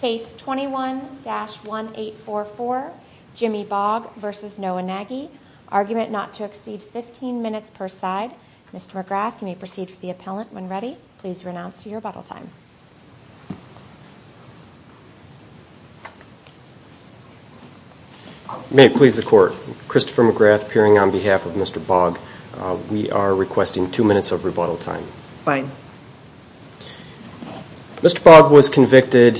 Case 21-1844, Jimmy Baugh v. Noah Nagy. Argument not to exceed 15 minutes per side. Mr. McGrath, you may proceed for the appellant when ready. Please renounce your rebuttal time. May it please the Court, Christopher McGrath appearing on behalf of Mr. Baugh. We are requesting two minutes of rebuttal time. Fine. Mr. Baugh was convicted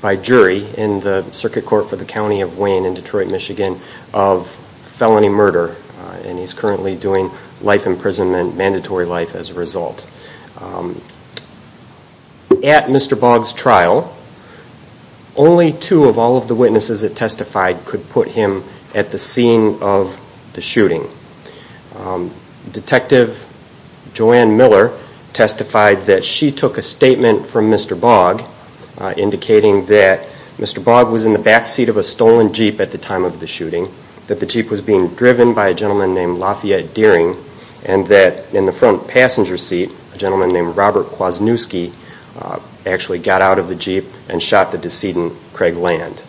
by jury in the Circuit Court for the County of Wayne in Detroit, Michigan of felony murder. And he's currently doing life imprisonment, mandatory life as a result. At Mr. Baugh's trial, only two of all of the witnesses that testified could put him at the scene of the shooting. Detective Joanne Miller testified that she took a statement from Mr. Baugh indicating that Mr. Baugh was in the backseat of a stolen jeep at the time of the shooting, that the jeep was being driven by a gentleman named Lafayette Dearing, and that in the front passenger seat, a gentleman named Robert Kwasniewski actually got out of the jeep and shot the decedent, Craig Land.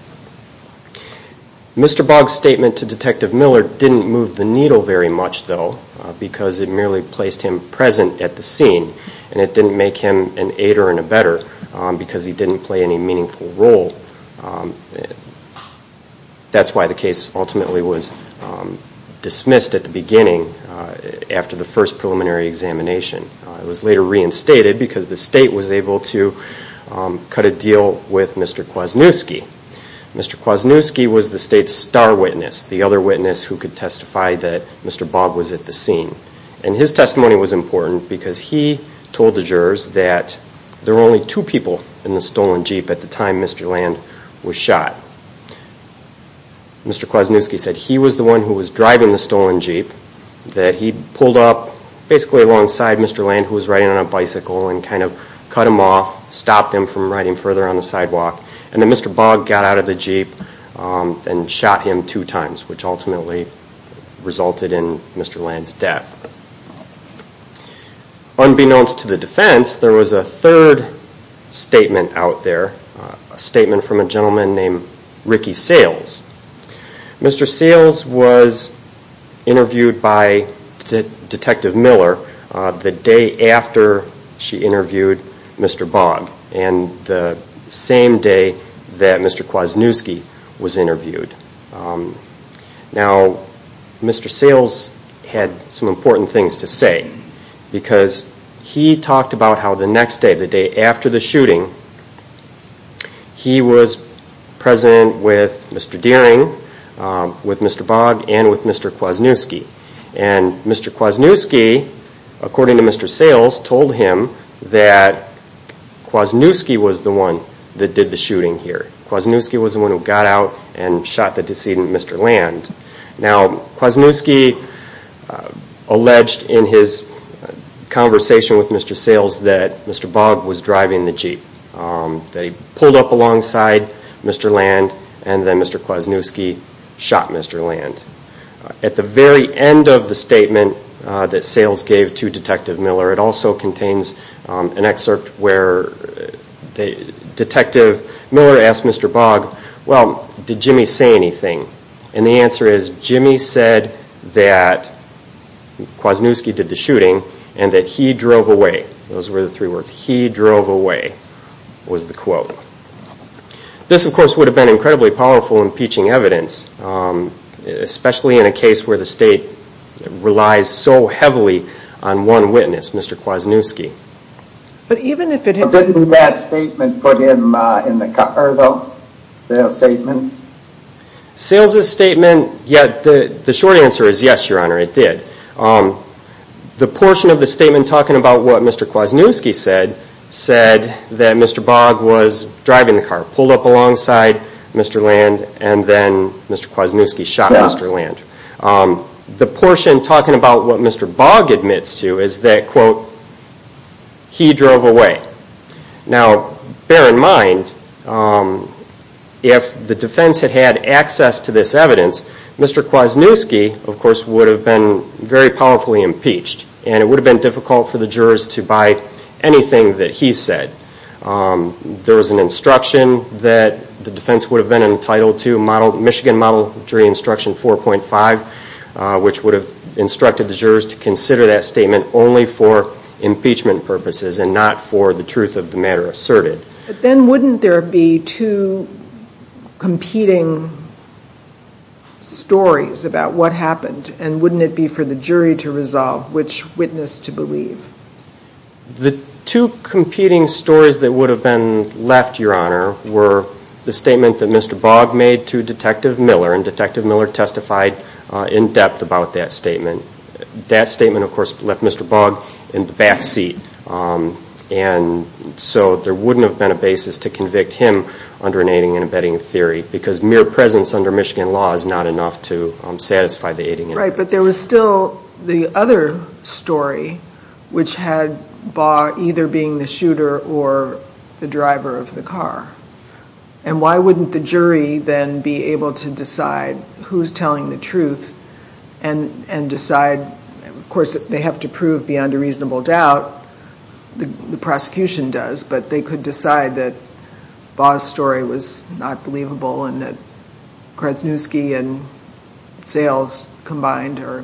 Mr. Baugh's statement to Detective Miller didn't move the needle very much, though, because it merely placed him present at the scene, and it didn't make him an aider and a better, because he didn't play any meaningful role. That's why the case ultimately was dismissed at the beginning after the first preliminary examination. It was later reinstated because the state was able to cut a deal with Mr. Kwasniewski. Mr. Kwasniewski was the state's star witness, the other witness who could testify that Mr. Baugh was at the scene. And his testimony was important because he told the jurors that there were only two people in the stolen jeep at the time Mr. Land was shot. Mr. Kwasniewski said he was the one who was driving the stolen jeep, that he pulled up basically alongside Mr. Land, who was riding on a bicycle, and kind of cut him off, stopped him from riding further on the sidewalk, and then Mr. Baugh got out of the jeep and shot him two times, which ultimately resulted in Mr. Land's death. Unbeknownst to the defense, there was a third statement out there, a statement from a gentleman named Ricky Sayles. Mr. Sayles was interviewed by Detective Miller the day after she interviewed Mr. Baugh, and the same day that Mr. Kwasniewski was interviewed. Now, Mr. Sayles had some important things to say because he talked about how the next day, the day after the shooting, he was present with Mr. Deering, with Mr. Baugh, and with Mr. Kwasniewski. And Mr. Kwasniewski, according to Mr. Sayles, told him that Kwasniewski was the one that did the shooting here. Kwasniewski was the one who got out and shot the decedent, Mr. Land. Now, Kwasniewski alleged in his conversation with Mr. Sayles that Mr. Baugh was driving the jeep, that he pulled up alongside Mr. Land, and then Mr. Kwasniewski shot Mr. Land. At the very end of the statement that Sayles gave to Detective Miller, it also contains an excerpt where Detective Miller asked Mr. Baugh, well, did Jimmy say anything? And the answer is, Jimmy said that Kwasniewski did the shooting and that he drove away. Those were the three words. He drove away was the quote. This, of course, would have been incredibly powerful impeaching evidence, especially in a case where the state relies so heavily on one witness, Mr. Kwasniewski. Didn't that statement put him in the car, though, Sayles' statement? Sayles' statement, yeah, the short answer is yes, Your Honor, it did. The portion of the statement talking about what Mr. Kwasniewski said, said that Mr. Baugh was driving the car, pulled up alongside Mr. Land, and then Mr. Kwasniewski shot Mr. Land. The portion talking about what Mr. Baugh admits to is that, quote, he drove away. Now, bear in mind, if the defense had had access to this evidence, Mr. Kwasniewski, of course, would have been very powerfully impeached, and it would have been difficult for the jurors to buy anything that he said. There was an instruction that the defense would have been entitled to, the Michigan model jury instruction 4.5, which would have instructed the jurors to consider that statement only for impeachment purposes and not for the truth of the matter asserted. But then wouldn't there be two competing stories about what happened, and wouldn't it be for the jury to resolve which witness to believe? The statement that Mr. Baugh made to Detective Miller, and Detective Miller testified in depth about that statement. That statement, of course, left Mr. Baugh in the back seat, and so there wouldn't have been a basis to convict him under an aiding and abetting theory because mere presence under Michigan law is not enough to satisfy the aiding and abetting theory. Right, but there was still the other story, which had Baugh either being the shooter or the driver of the car. And why wouldn't the jury then be able to decide who's telling the truth and decide, of course, they have to prove beyond a reasonable doubt, the prosecution does, but they could decide that Baugh's story was not believable and that Krasnuski and Sales combined are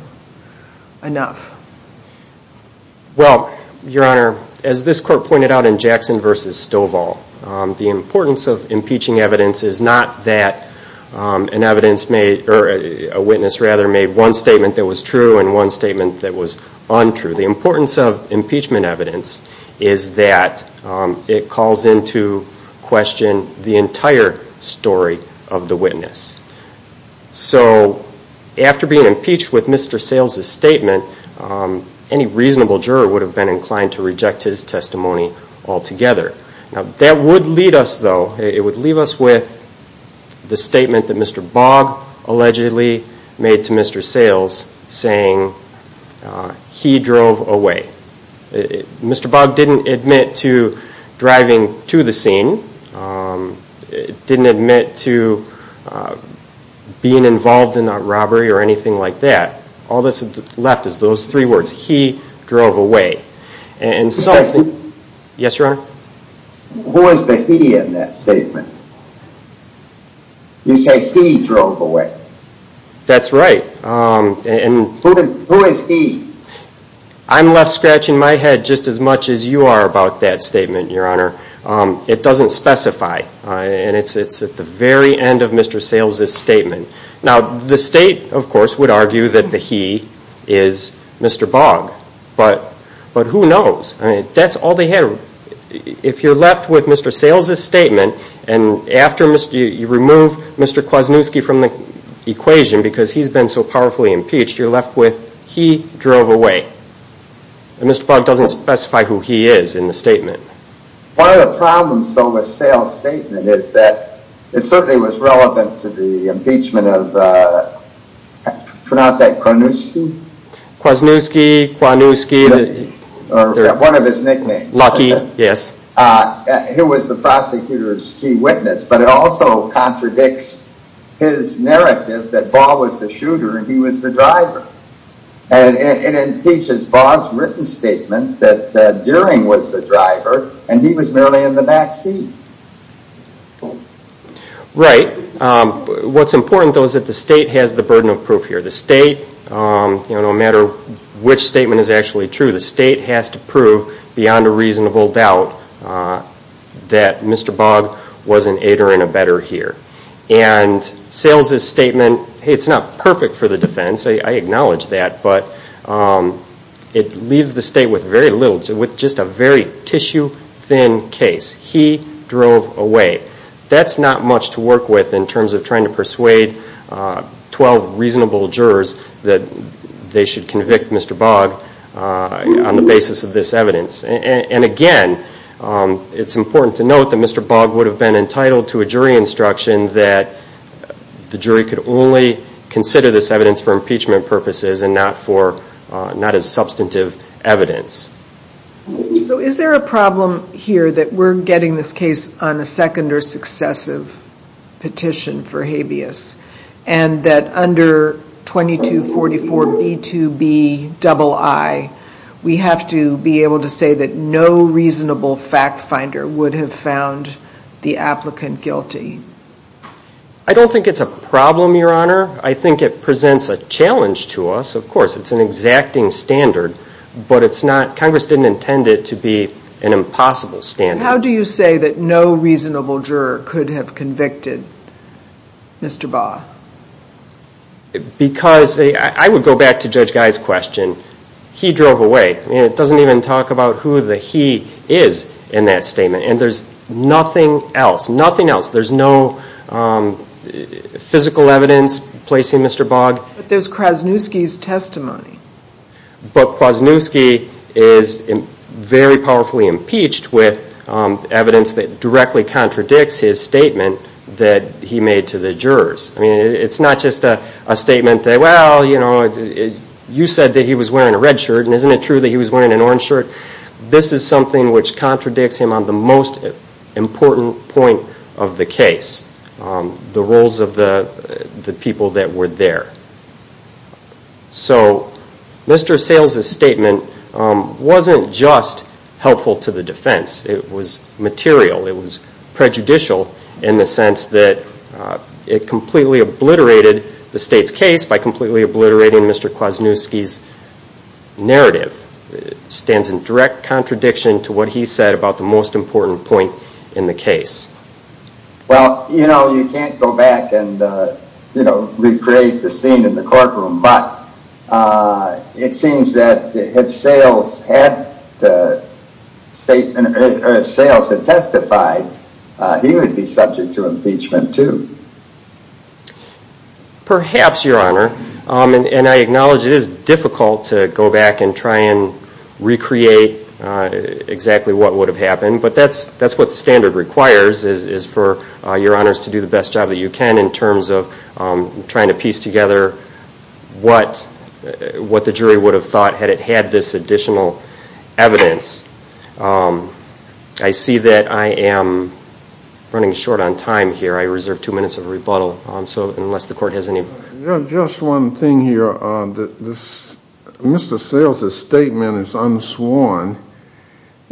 enough. Well, Your Honor, as this court pointed out in Jackson v. Stovall, the importance of impeaching evidence is not that a witness made one statement that was true and one statement that was untrue. The importance of impeachment evidence is that it calls into question the entire story of the witness. So after being impeached with Mr. Sales' statement, any reasonable juror would have been inclined to reject his testimony altogether. Now, that would leave us, though, it would leave us with the statement that Mr. Baugh allegedly made to Mr. Sales saying, he drove away. Mr. Baugh didn't admit to driving to the scene. He didn't admit to being involved in a robbery or anything like that. All that's left is those three words, he drove away. And so, yes, Your Honor? What was the he in that statement? You say he drove away. That's right. Who is he? I'm left scratching my head just as much as you are about that statement, Your Honor. It doesn't specify. And it's at the very end of Mr. Sales' statement. Now, the state, of course, would argue that the he is Mr. Baugh. But who knows? That's all they have. Your Honor, if you're left with Mr. Sales' statement, and after you remove Mr. Kwasniewski from the equation because he's been so powerfully impeached, you're left with he drove away. And Mr. Baugh doesn't specify who he is in the statement. One of the problems, though, with Sales' statement is that it certainly was relevant to the impeachment of, pronounce that, Kwanewski? Kwasniewski, Kwanewski. One of his nicknames. Lucky, yes. He was the prosecutor's key witness. But it also contradicts his narrative that Baugh was the shooter and he was the driver. And it impeaches Baugh's written statement that During was the driver and he was merely in the backseat. Right. What's important, though, is that the state has the burden of proof here. The state, no matter which statement is actually true, the state has to prove beyond a reasonable doubt that Mr. Baugh was an aider and a better here. And Sales' statement, hey, it's not perfect for the defense. I acknowledge that. But it leaves the state with just a very tissue-thin case. He drove away. That's not much to work with in terms of trying to persuade 12 reasonable jurors that they should convict Mr. Baugh on the basis of this evidence. And, again, it's important to note that Mr. Baugh would have been entitled to a jury instruction that the jury could only consider this evidence for impeachment purposes and not as substantive evidence. So is there a problem here that we're getting this case on a second or successive petition for habeas and that under 2244B2BII we have to be able to say that no reasonable fact finder would have found the applicant guilty? I don't think it's a problem, Your Honor. I think it presents a challenge to us. Of course, it's an exacting standard, but Congress didn't intend it to be an impossible standard. How do you say that no reasonable juror could have convicted Mr. Baugh? Because I would go back to Judge Guy's question. He drove away. It doesn't even talk about who the he is in that statement, and there's nothing else, nothing else. There's no physical evidence placing Mr. Baugh. But there's Kwasniewski's testimony. But Kwasniewski is very powerfully impeached with evidence that directly contradicts his statement that he made to the jurors. I mean, it's not just a statement that, well, you know, you said that he was wearing a red shirt, and isn't it true that he was wearing an orange shirt? This is something which contradicts him on the most important point of the case, the roles of the people that were there. So Mr. Sales' statement wasn't just helpful to the defense. It was material. It was prejudicial in the sense that it completely obliterated the State's case by completely obliterating Mr. Kwasniewski's narrative. It stands in direct contradiction to what he said about the most important point in the case. Well, you know, you can't go back and, you know, recreate the scene in the courtroom, but it seems that if Sales had testified, he would be subject to impeachment too. Perhaps, Your Honor. And I acknowledge it is difficult to go back and try and recreate exactly what would have happened, but that's what the standard requires is for Your Honors to do the best job that you can in terms of trying to piece together what the jury would have thought had it had this additional evidence. I see that I am running short on time here. I reserve two minutes of rebuttal, unless the Court has any. Just one thing here. Mr. Sales' statement is unsworn,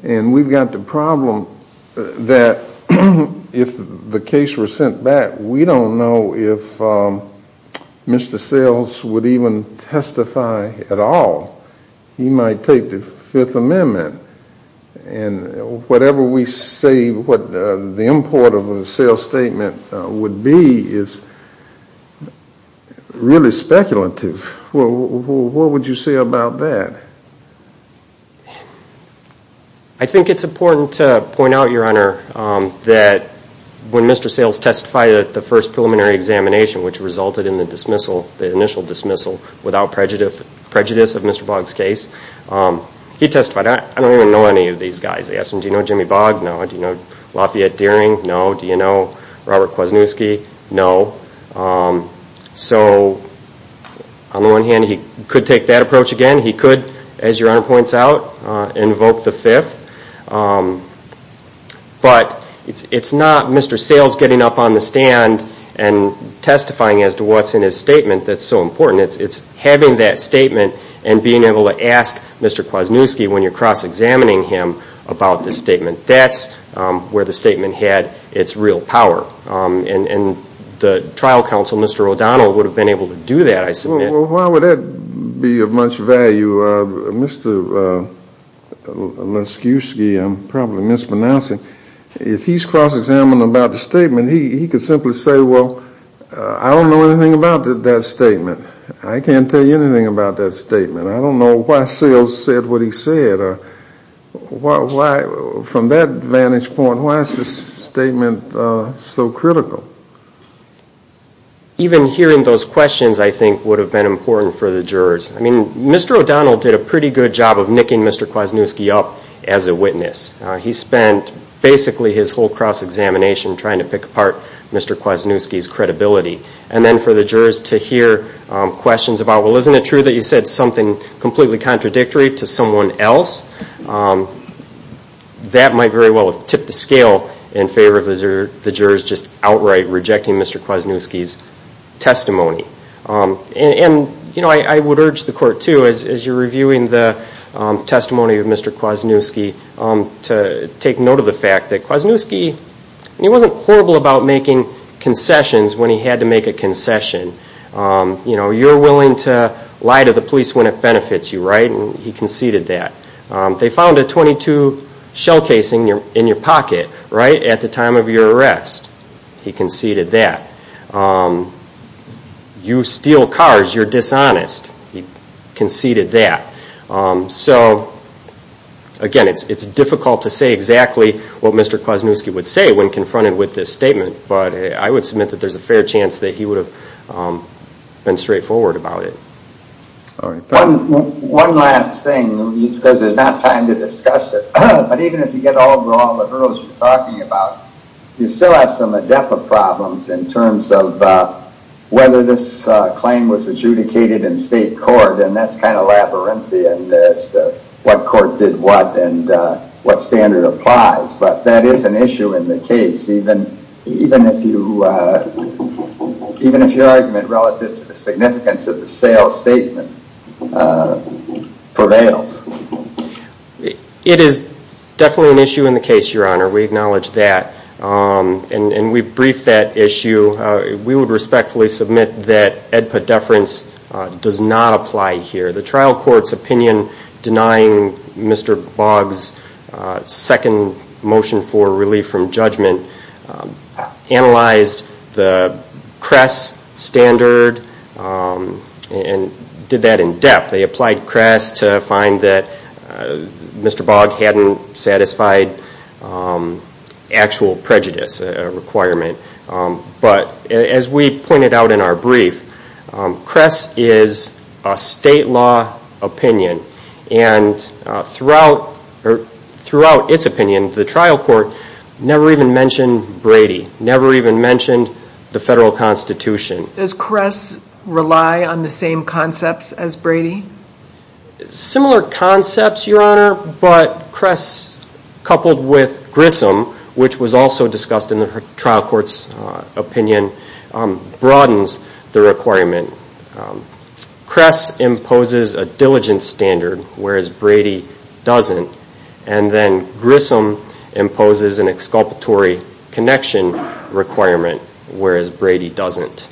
and we've got the problem that if the case were sent back, we don't know if Mr. Sales would even testify at all. He might take the Fifth Amendment. And whatever we say what the import of a Sales statement would be is really speculative. What would you say about that? I think it's important to point out, Your Honor, that when Mr. Sales testified at the first preliminary examination, which resulted in the dismissal, the initial dismissal, without prejudice of Mr. Boggs' case, he testified. I don't even know any of these guys. Do you know Jimmy Boggs? No. Do you know Lafayette Dearing? No. Do you know Robert Kwasniewski? No. So on the one hand, he could take that approach again. He could, as Your Honor points out, invoke the Fifth. But it's not Mr. Sales getting up on the stand and testifying as to what's in his statement that's so important. It's having that statement and being able to ask Mr. Kwasniewski when you're cross-examining him about the statement. That's where the statement had its real power. And the trial counsel, Mr. O'Donnell, would have been able to do that, I submit. Well, why would that be of much value? Mr. Laskiewski, I'm probably mispronouncing, if he's cross-examining about the statement, he could simply say, well, I don't know anything about that statement. I can't tell you anything about that statement. I don't know why Sales said what he said. From that vantage point, why is this statement so critical? Even hearing those questions, I think, would have been important for the jurors. I mean, Mr. O'Donnell did a pretty good job of nicking Mr. Kwasniewski up as a witness. He spent basically his whole cross-examination trying to pick apart Mr. Kwasniewski's credibility. And then for the jurors to hear questions about, well, isn't it true that you said something completely contradictory to someone else? That might very well have tipped the scale in favor of the jurors just outright rejecting Mr. Kwasniewski's testimony. And, you know, I would urge the court, too, as you're reviewing the testimony of Mr. Kwasniewski, to take note of the fact that Kwasniewski, he wasn't horrible about making concessions when he had to make a concession. You know, you're willing to lie to the police when it benefits you, right? And he conceded that. They found a .22 shell casing in your pocket, right, at the time of your arrest. He conceded that. You steal cars, you're dishonest. He conceded that. So, again, it's difficult to say exactly what Mr. Kwasniewski would say when confronted with this statement, but I would submit that there's a fair chance that he would have been straightforward about it. One last thing, because there's not time to discuss it, but even if you get over all the hurdles you're talking about, you still have some in-depth problems in terms of whether this claim was adjudicated in state court, and that's kind of labyrinthian as to what court did what and what standard applies. But that is an issue in the case, even if your argument relative to the significance of the sales statement prevails. It is definitely an issue in the case, Your Honor. We acknowledge that. And we briefed that issue. We would respectfully submit that EDPA deference does not apply here. The trial court's opinion denying Mr. Boggs' second motion for relief from judgment analyzed the Kress standard and did that in depth. They applied Kress to find that Mr. Boggs hadn't satisfied actual prejudice requirement. But as we pointed out in our brief, Kress is a state law opinion, and throughout its opinion, the trial court never even mentioned Brady, never even mentioned the federal constitution. Does Kress rely on the same concepts as Brady? Similar concepts, Your Honor, but Kress coupled with Grissom, which was also discussed in the trial court's opinion, broadens the requirement. Kress imposes a diligence standard, whereas Brady doesn't, and then Grissom imposes an exculpatory connection requirement, whereas Brady doesn't.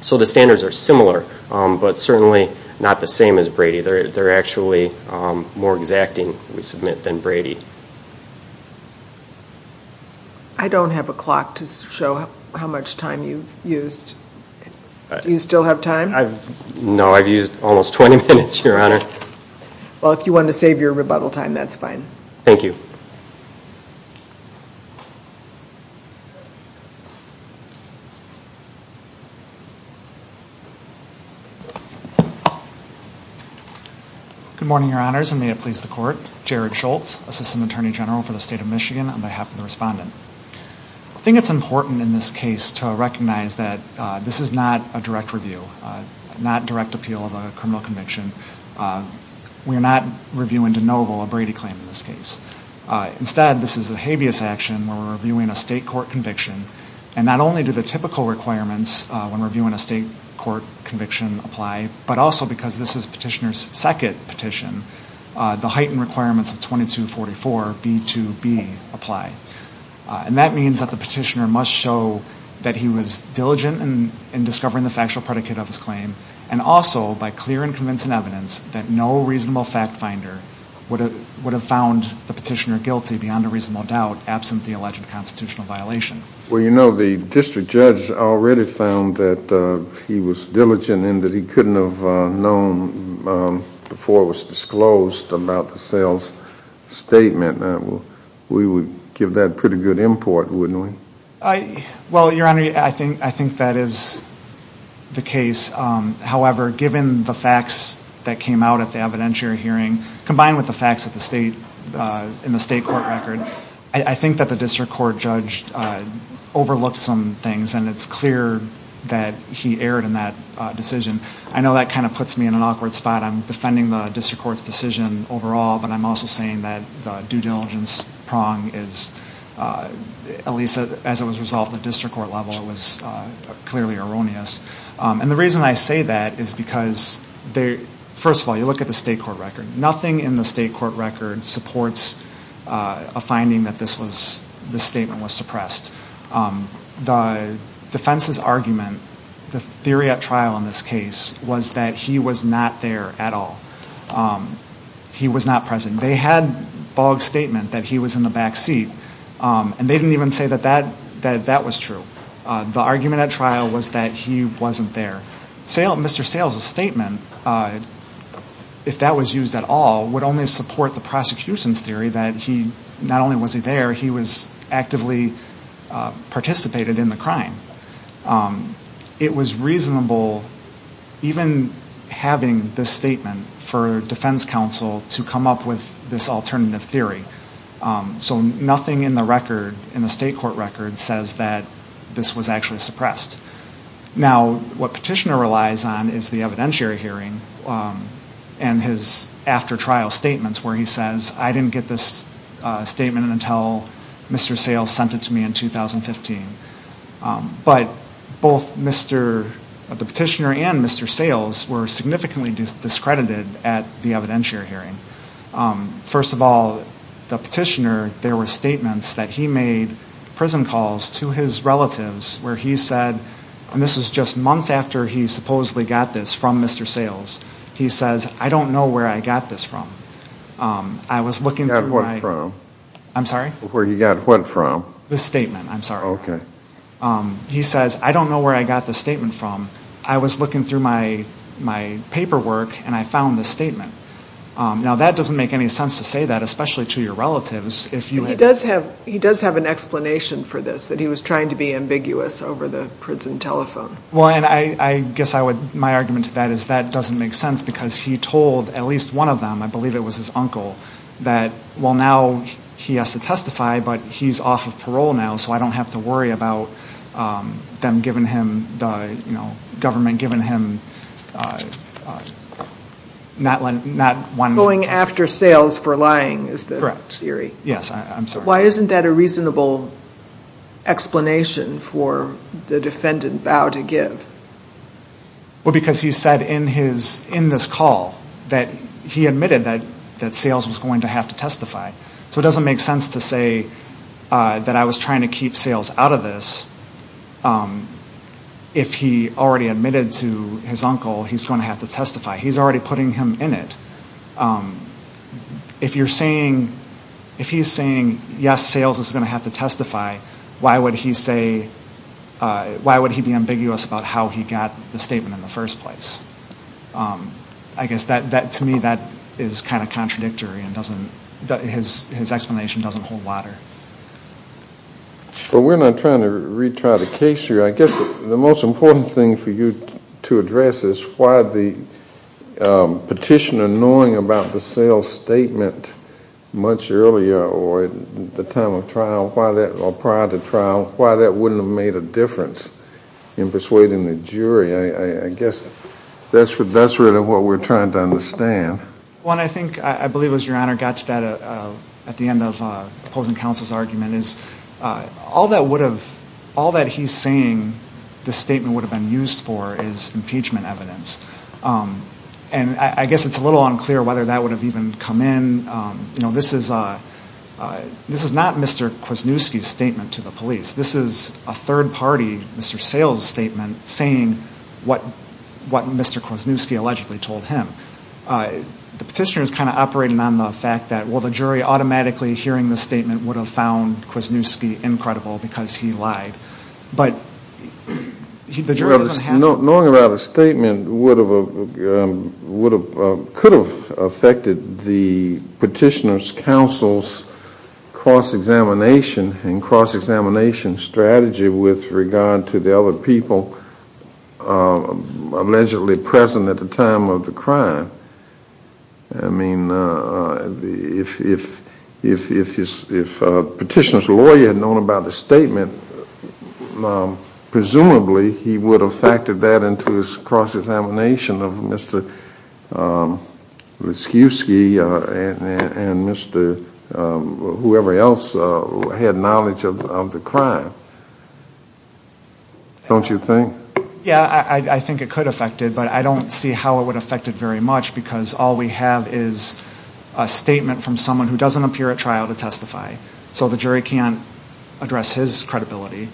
So the standards are similar, but certainly not the same as Brady. They're actually more exacting, we submit, than Brady. I don't have a clock to show how much time you've used. Do you still have time? No, I've used almost 20 minutes, Your Honor. Well, if you want to save your rebuttal time, that's fine. Thank you. Good morning, Your Honors, and may it please the court. Jared Schultz, Assistant Attorney General for the State of Michigan, on behalf of the respondent. I think it's important in this case to recognize that this is not a direct review, not direct appeal of a criminal conviction. We're not reviewing de novo a Brady claim in this case. Instead, this is a habeas action where we're reviewing a state court conviction, and not only do the typical requirements when reviewing a state court conviction apply, but also because this is Petitioner's second petition, the heightened requirements of 2244B2B apply. And that means that the Petitioner must show that he was diligent in discovering the factual predicate of his claim, and also by clear and convincing evidence that no reasonable fact finder would have found the Petitioner guilty beyond a reasonable doubt, absent the alleged constitutional violation. Well, you know, the district judge already found that he was diligent and that he couldn't have known before it was disclosed about the sales statement. We would give that pretty good import, wouldn't we? Well, Your Honor, I think that is the case. However, given the facts that came out at the evidentiary hearing, combined with the facts in the state court record, I think that the district court judge overlooked some things, and it's clear that he erred in that decision. I know that kind of puts me in an awkward spot. I'm defending the district court's decision overall, but I'm also saying that the due diligence prong is, at least as it was resolved at the district court level, it was clearly erroneous. And the reason I say that is because, first of all, you look at the state court record. Nothing in the state court record supports a finding that this statement was suppressed. The defense's argument, the theory at trial in this case, was that he was not there at all. He was not present. They had Boggs' statement that he was in the back seat, and they didn't even say that that was true. The argument at trial was that he wasn't there. Mr. Sales' statement, if that was used at all, would only support the prosecution's theory that not only was he there, he was actively participated in the crime. It was reasonable, even having this statement, for defense counsel to come up with this alternative theory. So nothing in the record, in the state court record, says that this was actually suppressed. Now, what Petitioner relies on is the evidentiary hearing and his after-trial statements where he says, I didn't get this statement until Mr. Sales sent it to me in 2015. But both the Petitioner and Mr. Sales were significantly discredited at the evidentiary hearing. First of all, the Petitioner, there were statements that he made prison calls to his relatives where he said, and this was just months after he supposedly got this from Mr. Sales, he says, I don't know where I got this from. I was looking through my- Where he got what from? I'm sorry? Where he got what from? This statement, I'm sorry. Okay. He says, I don't know where I got this statement from. I was looking through my paperwork and I found this statement. Now, that doesn't make any sense to say that, especially to your relatives. He does have an explanation for this, that he was trying to be ambiguous over the prison telephone. Well, and I guess my argument to that is that doesn't make sense because he told at least one of them, I believe it was his uncle, that, well, now he has to testify, but he's off of parole now, so I don't have to worry about them giving him, the government giving him not one- Going after Sales for lying is the theory. Correct. Yes, I'm sorry. Why isn't that a reasonable explanation for the defendant vow to give? Well, because he said in this call that he admitted that Sales was going to have to testify, so it doesn't make sense to say that I was trying to keep Sales out of this if he already admitted to his uncle he's going to have to testify. He's already putting him in it. If you're saying, if he's saying, yes, Sales is going to have to testify, why would he say, why would he be ambiguous about how he got the statement in the first place? I guess that, to me, that is kind of contradictory and doesn't, his explanation doesn't hold water. Well, we're not trying to retry the case here. I guess the most important thing for you to address is why the petitioner knowing about the Sales statement much earlier or at the time of trial or prior to trial, why that wouldn't have made a difference in persuading the jury. I guess that's really what we're trying to understand. One, I think, I believe it was your Honor, got to that at the end of opposing counsel's argument, is all that he's saying the statement would have been used for is impeachment evidence. And I guess it's a little unclear whether that would have even come in. This is not Mr. Kwasniewski's statement to the police. This is a third party, Mr. Sales' statement saying what Mr. Kwasniewski allegedly told him. The petitioner is kind of operating on the fact that, well, the jury automatically hearing the statement would have found Kwasniewski incredible because he lied. But the jury doesn't have. Knowing about a statement could have affected the petitioner's counsel's cross-examination and cross-examination strategy with regard to the other people allegedly present at the time of the crime. I mean, if the petitioner's lawyer had known about the statement, presumably he would have factored that into his cross-examination of Mr. Kwasniewski and Mr. whoever else had knowledge of the crime. Don't you think? Yeah, I think it could affect it, but I don't see how it would affect it very much because all we have is a statement from someone who doesn't appear at trial to testify. So the jury can't address his credibility.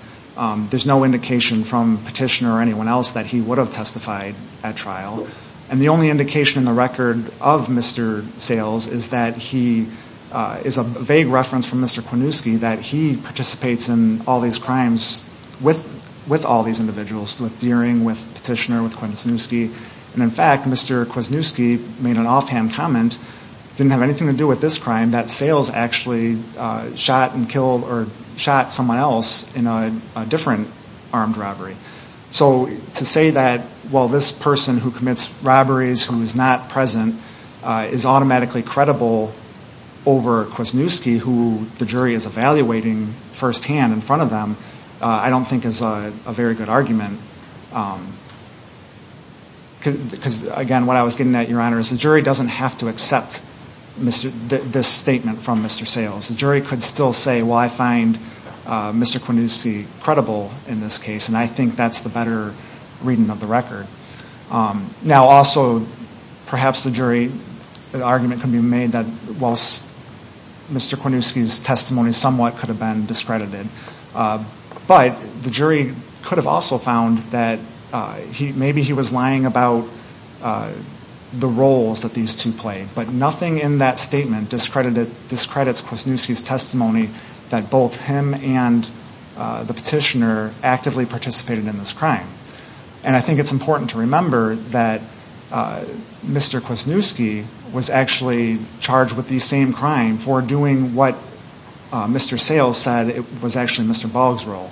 There's no indication from petitioner or anyone else that he would have testified at trial. And the only indication in the record of Mr. Sales is that he is a vague reference from Mr. Kwasniewski that he participates in all these crimes with all these individuals, with Deering, with petitioner, with Kwasniewski. And in fact, Mr. Kwasniewski made an offhand comment, didn't have anything to do with this crime, that Sales actually shot and killed or shot someone else in a different armed robbery. So to say that, well, this person who commits robberies, who is not present, is automatically credible over Kwasniewski, who the jury is evaluating firsthand in front of them, I don't think is a very good argument. Because, again, what I was getting at, Your Honor, is the jury doesn't have to accept this statement from Mr. Sales. The jury could still say, well, I find Mr. Kwasniewski credible in this case, and I think that's the better reading of the record. Now, also, perhaps the jury argument could be made that, whilst Mr. Kwasniewski's testimony somewhat could have been discredited, but the jury could have also found that maybe he was lying about the roles that these two played. But nothing in that statement discredits Kwasniewski's testimony that both him and the petitioner actively participated in this crime. And I think it's important to remember that Mr. Kwasniewski was actually charged with the same crime for doing what Mr. Sales said was actually Mr. Bogg's role.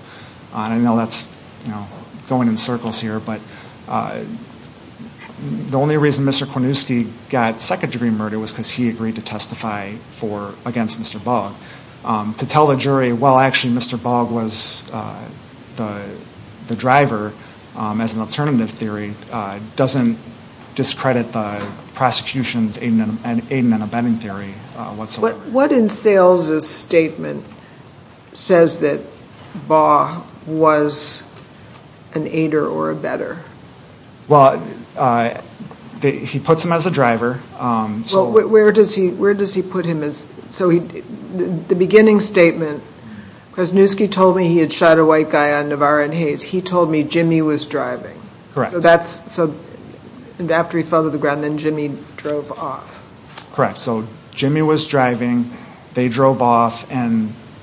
And I know that's going in circles here, but the only reason Mr. Kwasniewski got second-degree murder was because he agreed to testify against Mr. Bogg. To tell the jury, well, actually, Mr. Bogg was the driver, as an alternative theory, doesn't discredit the prosecution's aid and abetting theory whatsoever. What in Sales' statement says that Bogg was an aider or abetter? Well, he puts him as a driver. Where does he put him? So the beginning statement, Kwasniewski told me he had shot a white guy on Navarre and Hayes. He told me Jimmy was driving. Correct. So after he fell to the ground, then Jimmy drove off. Correct. So Jimmy was driving, they drove off,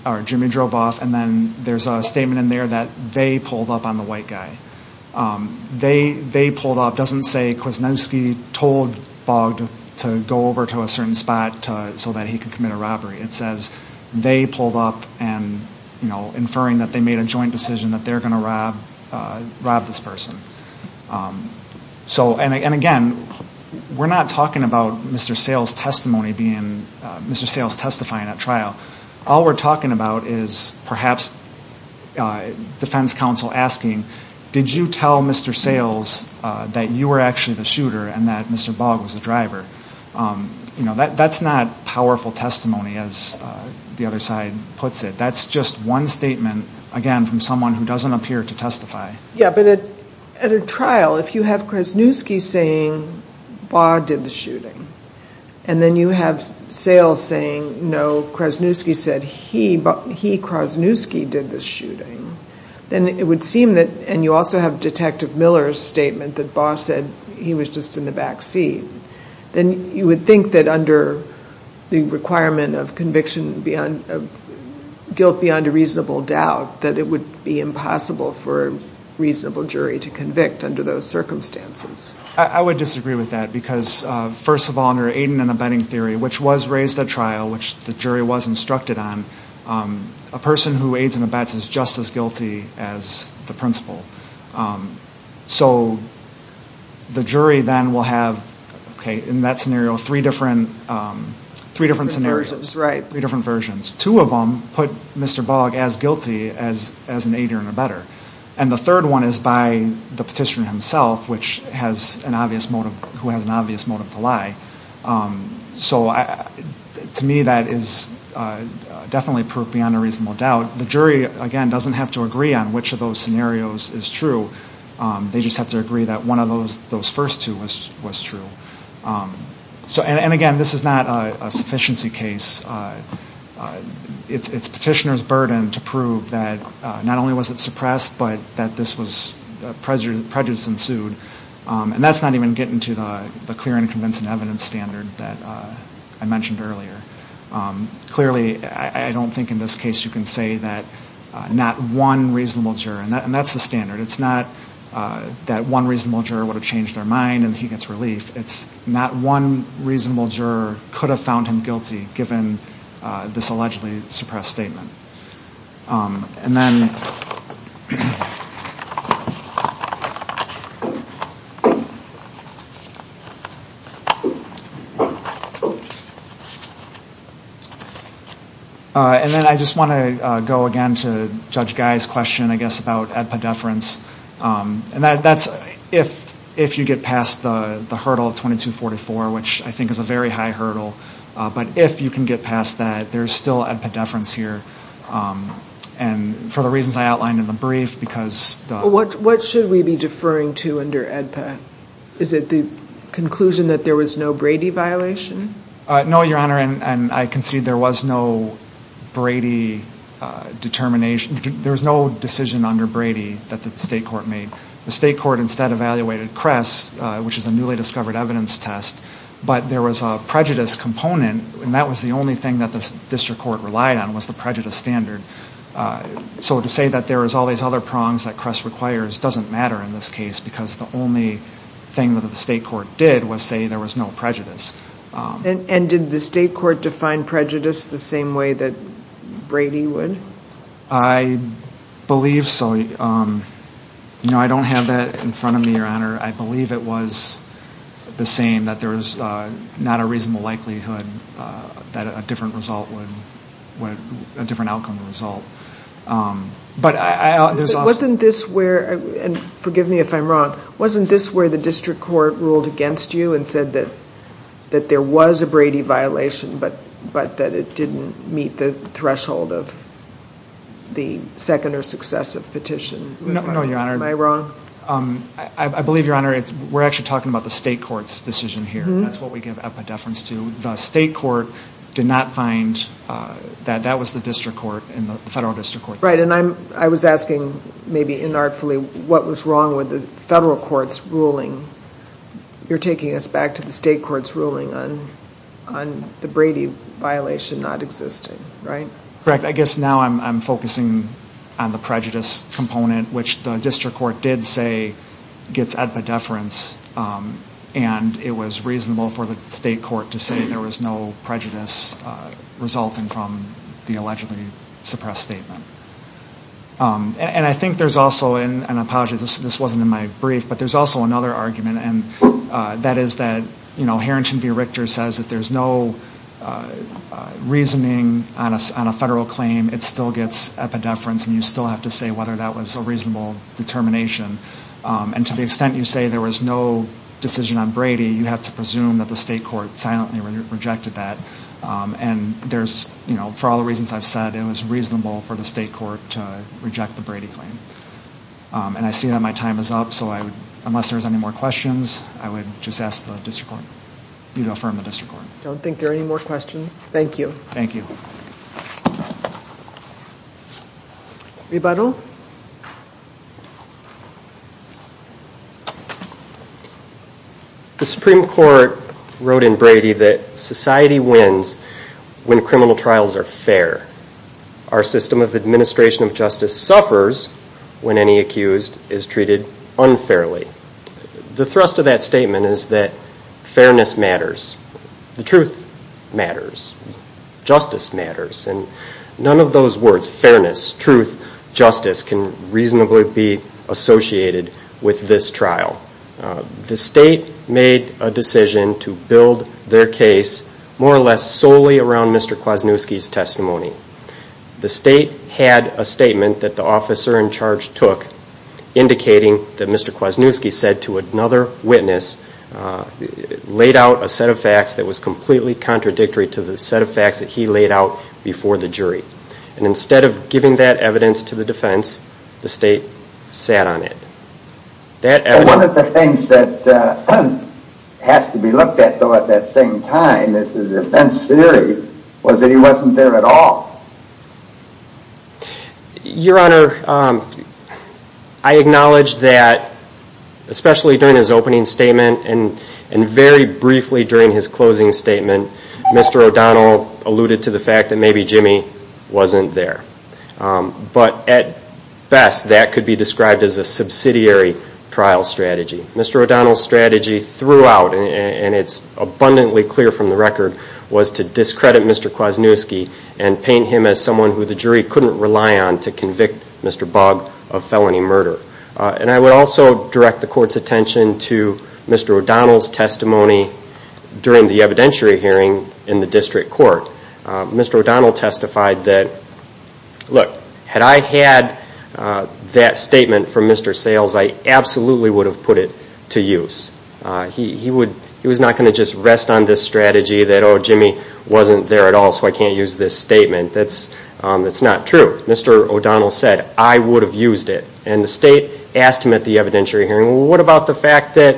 or Jimmy drove off, and then there's a statement in there that they pulled up on the white guy. They pulled up, doesn't say Kwasniewski told Bogg to go over to a certain spot so that he could commit a robbery. It says they pulled up and, you know, inferring that they made a joint decision that they're going to rob this person. And again, we're not talking about Mr. Sales' testimony being, Mr. Sales testifying at trial. All we're talking about is perhaps defense counsel asking, did you tell Mr. Sales that you were actually the shooter and that Mr. Bogg was the driver? You know, that's not powerful testimony, as the other side puts it. That's just one statement, again, from someone who doesn't appear to testify. Yeah, but at a trial, if you have Kwasniewski saying Bogg did the shooting and then you have Sales saying, no, Kwasniewski said he Kwasniewski did the shooting, then it would seem that, and you also have Detective Miller's statement that Bogg said he was just in the backseat, then you would think that under the requirement of conviction beyond, guilt beyond a reasonable doubt, that it would be impossible for a reasonable jury to convict under those circumstances. I would disagree with that because, first of all, under aiding and abetting theory, which was raised at trial, which the jury was instructed on, a person who aids and abets is just as guilty as the principal. So the jury then will have, okay, in that scenario, three different scenarios. Three different versions, right. Three different versions. Two of them put Mr. Bogg as guilty as an aider and abetter. And the third one is by the petitioner himself, which has an obvious motive, who has an obvious motive to lie. So to me, that is definitely beyond a reasonable doubt. The jury, again, doesn't have to agree on which of those scenarios is true. They just have to agree that one of those first two was true. And, again, this is not a sufficiency case. It's petitioner's burden to prove that not only was it suppressed, but that this was prejudice ensued. And that's not even getting to the clear and convincing evidence standard that I mentioned earlier. Clearly, I don't think in this case you can say that not one reasonable juror, and that's the standard. It's not that one reasonable juror would have changed their mind and he gets relief. It's not one reasonable juror could have found him guilty, given this allegedly suppressed statement. And then I just want to go again to Judge Guy's question, I guess, about ad pediferens. And that's if you get past the hurdle of 2244, which I think is a very high hurdle. But if you can get past that, there's still ad pediferens here. And for the reasons I outlined in the brief, because the- What should we be deferring to under ad ped? Is it the conclusion that there was no Brady violation? No, Your Honor, and I concede there was no Brady determination. There was no decision under Brady that the state court made. The state court instead evaluated Cress, which is a newly discovered evidence test. But there was a prejudice component, and that was the only thing that the district court relied on was the prejudice standard. So to say that there was all these other prongs that Cress requires doesn't matter in this case because the only thing that the state court did was say there was no prejudice. And did the state court define prejudice the same way that Brady would? I believe so. You know, I don't have that in front of me, Your Honor. I believe it was the same, that there was not a reasonable likelihood that a different outcome would result. But I- Wasn't this where, and forgive me if I'm wrong, wasn't this where the district court ruled against you and said that there was a Brady violation but that it didn't meet the threshold of the second or successive petition? No, Your Honor. Am I wrong? I believe, Your Honor, we're actually talking about the state court's decision here. That's what we give epidefference to. The state court did not find that that was the district court and the federal district court. Right, and I was asking maybe inartfully what was wrong with the federal court's ruling. You're taking us back to the state court's ruling on the Brady violation not existing, right? Correct. I guess now I'm focusing on the prejudice component, which the district court did say gets epidefference, and it was reasonable for the state court to say there was no prejudice resulting from the allegedly suppressed statement. And I think there's also, and I apologize, this wasn't in my brief, but there's also another argument, and that is that, you know, Harrington v. Richter says if there's no reasoning on a federal claim, it still gets epidefference and you still have to say whether that was a reasonable determination. And to the extent you say there was no decision on Brady, you have to presume that the state court silently rejected that. And there's, you know, for all the reasons I've said, it was reasonable for the state court to reject the Brady claim. And I see that my time is up, so unless there's any more questions, I would just ask you to affirm the district court. I don't think there are any more questions. Thank you. Thank you. Rebuttal? The Supreme Court wrote in Brady that society wins when criminal trials are fair. Our system of administration of justice suffers when any accused is treated unfairly. The thrust of that statement is that fairness matters. The truth matters. Justice matters. And none of those words, fairness, truth, justice, can reasonably be associated with this trial. The state made a decision to build their case more or less solely around Mr. Kwasniewski's testimony. The state had a statement that the officer in charge took, indicating that Mr. Kwasniewski said to another witness, laid out a set of facts that was completely contradictory to the set of facts that he laid out before the jury. And instead of giving that evidence to the defense, the state sat on it. One of the things that has to be looked at, though, at that same time as the defense theory, was that he wasn't there at all. Your Honor, I acknowledge that, especially during his opening statement and very briefly during his closing statement, Mr. O'Donnell alluded to the fact that maybe Jimmy wasn't there. But at best, that could be described as a subsidiary trial strategy. Mr. O'Donnell's strategy throughout, and it's abundantly clear from the record, was to discredit Mr. Kwasniewski and paint him as someone who the jury couldn't rely on to convict Mr. Bogd of felony murder. And I would also direct the Court's attention to Mr. O'Donnell's testimony during the evidentiary hearing in the District Court. Mr. O'Donnell testified that, look, had I had that statement from Mr. Sales, I absolutely would have put it to use. He was not going to just rest on this strategy that, oh, Jimmy wasn't there at all, so I can't use this statement. That's not true. Mr. O'Donnell said, I would have used it. And the state asked him at the evidentiary hearing, well, what about the fact that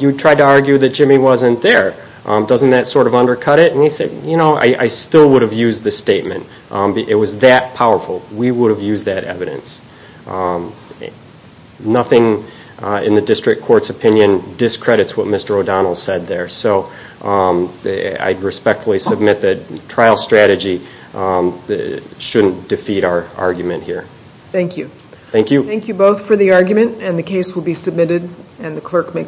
you tried to argue that Jimmy wasn't there? Doesn't that sort of undercut it? And he said, you know, I still would have used the statement. It was that powerful. We would have used that evidence. Nothing in the District Court's opinion discredits what Mr. O'Donnell said there. So I respectfully submit that trial strategy shouldn't defeat our argument here. Thank you. Thank you. And the clerk may call the next case.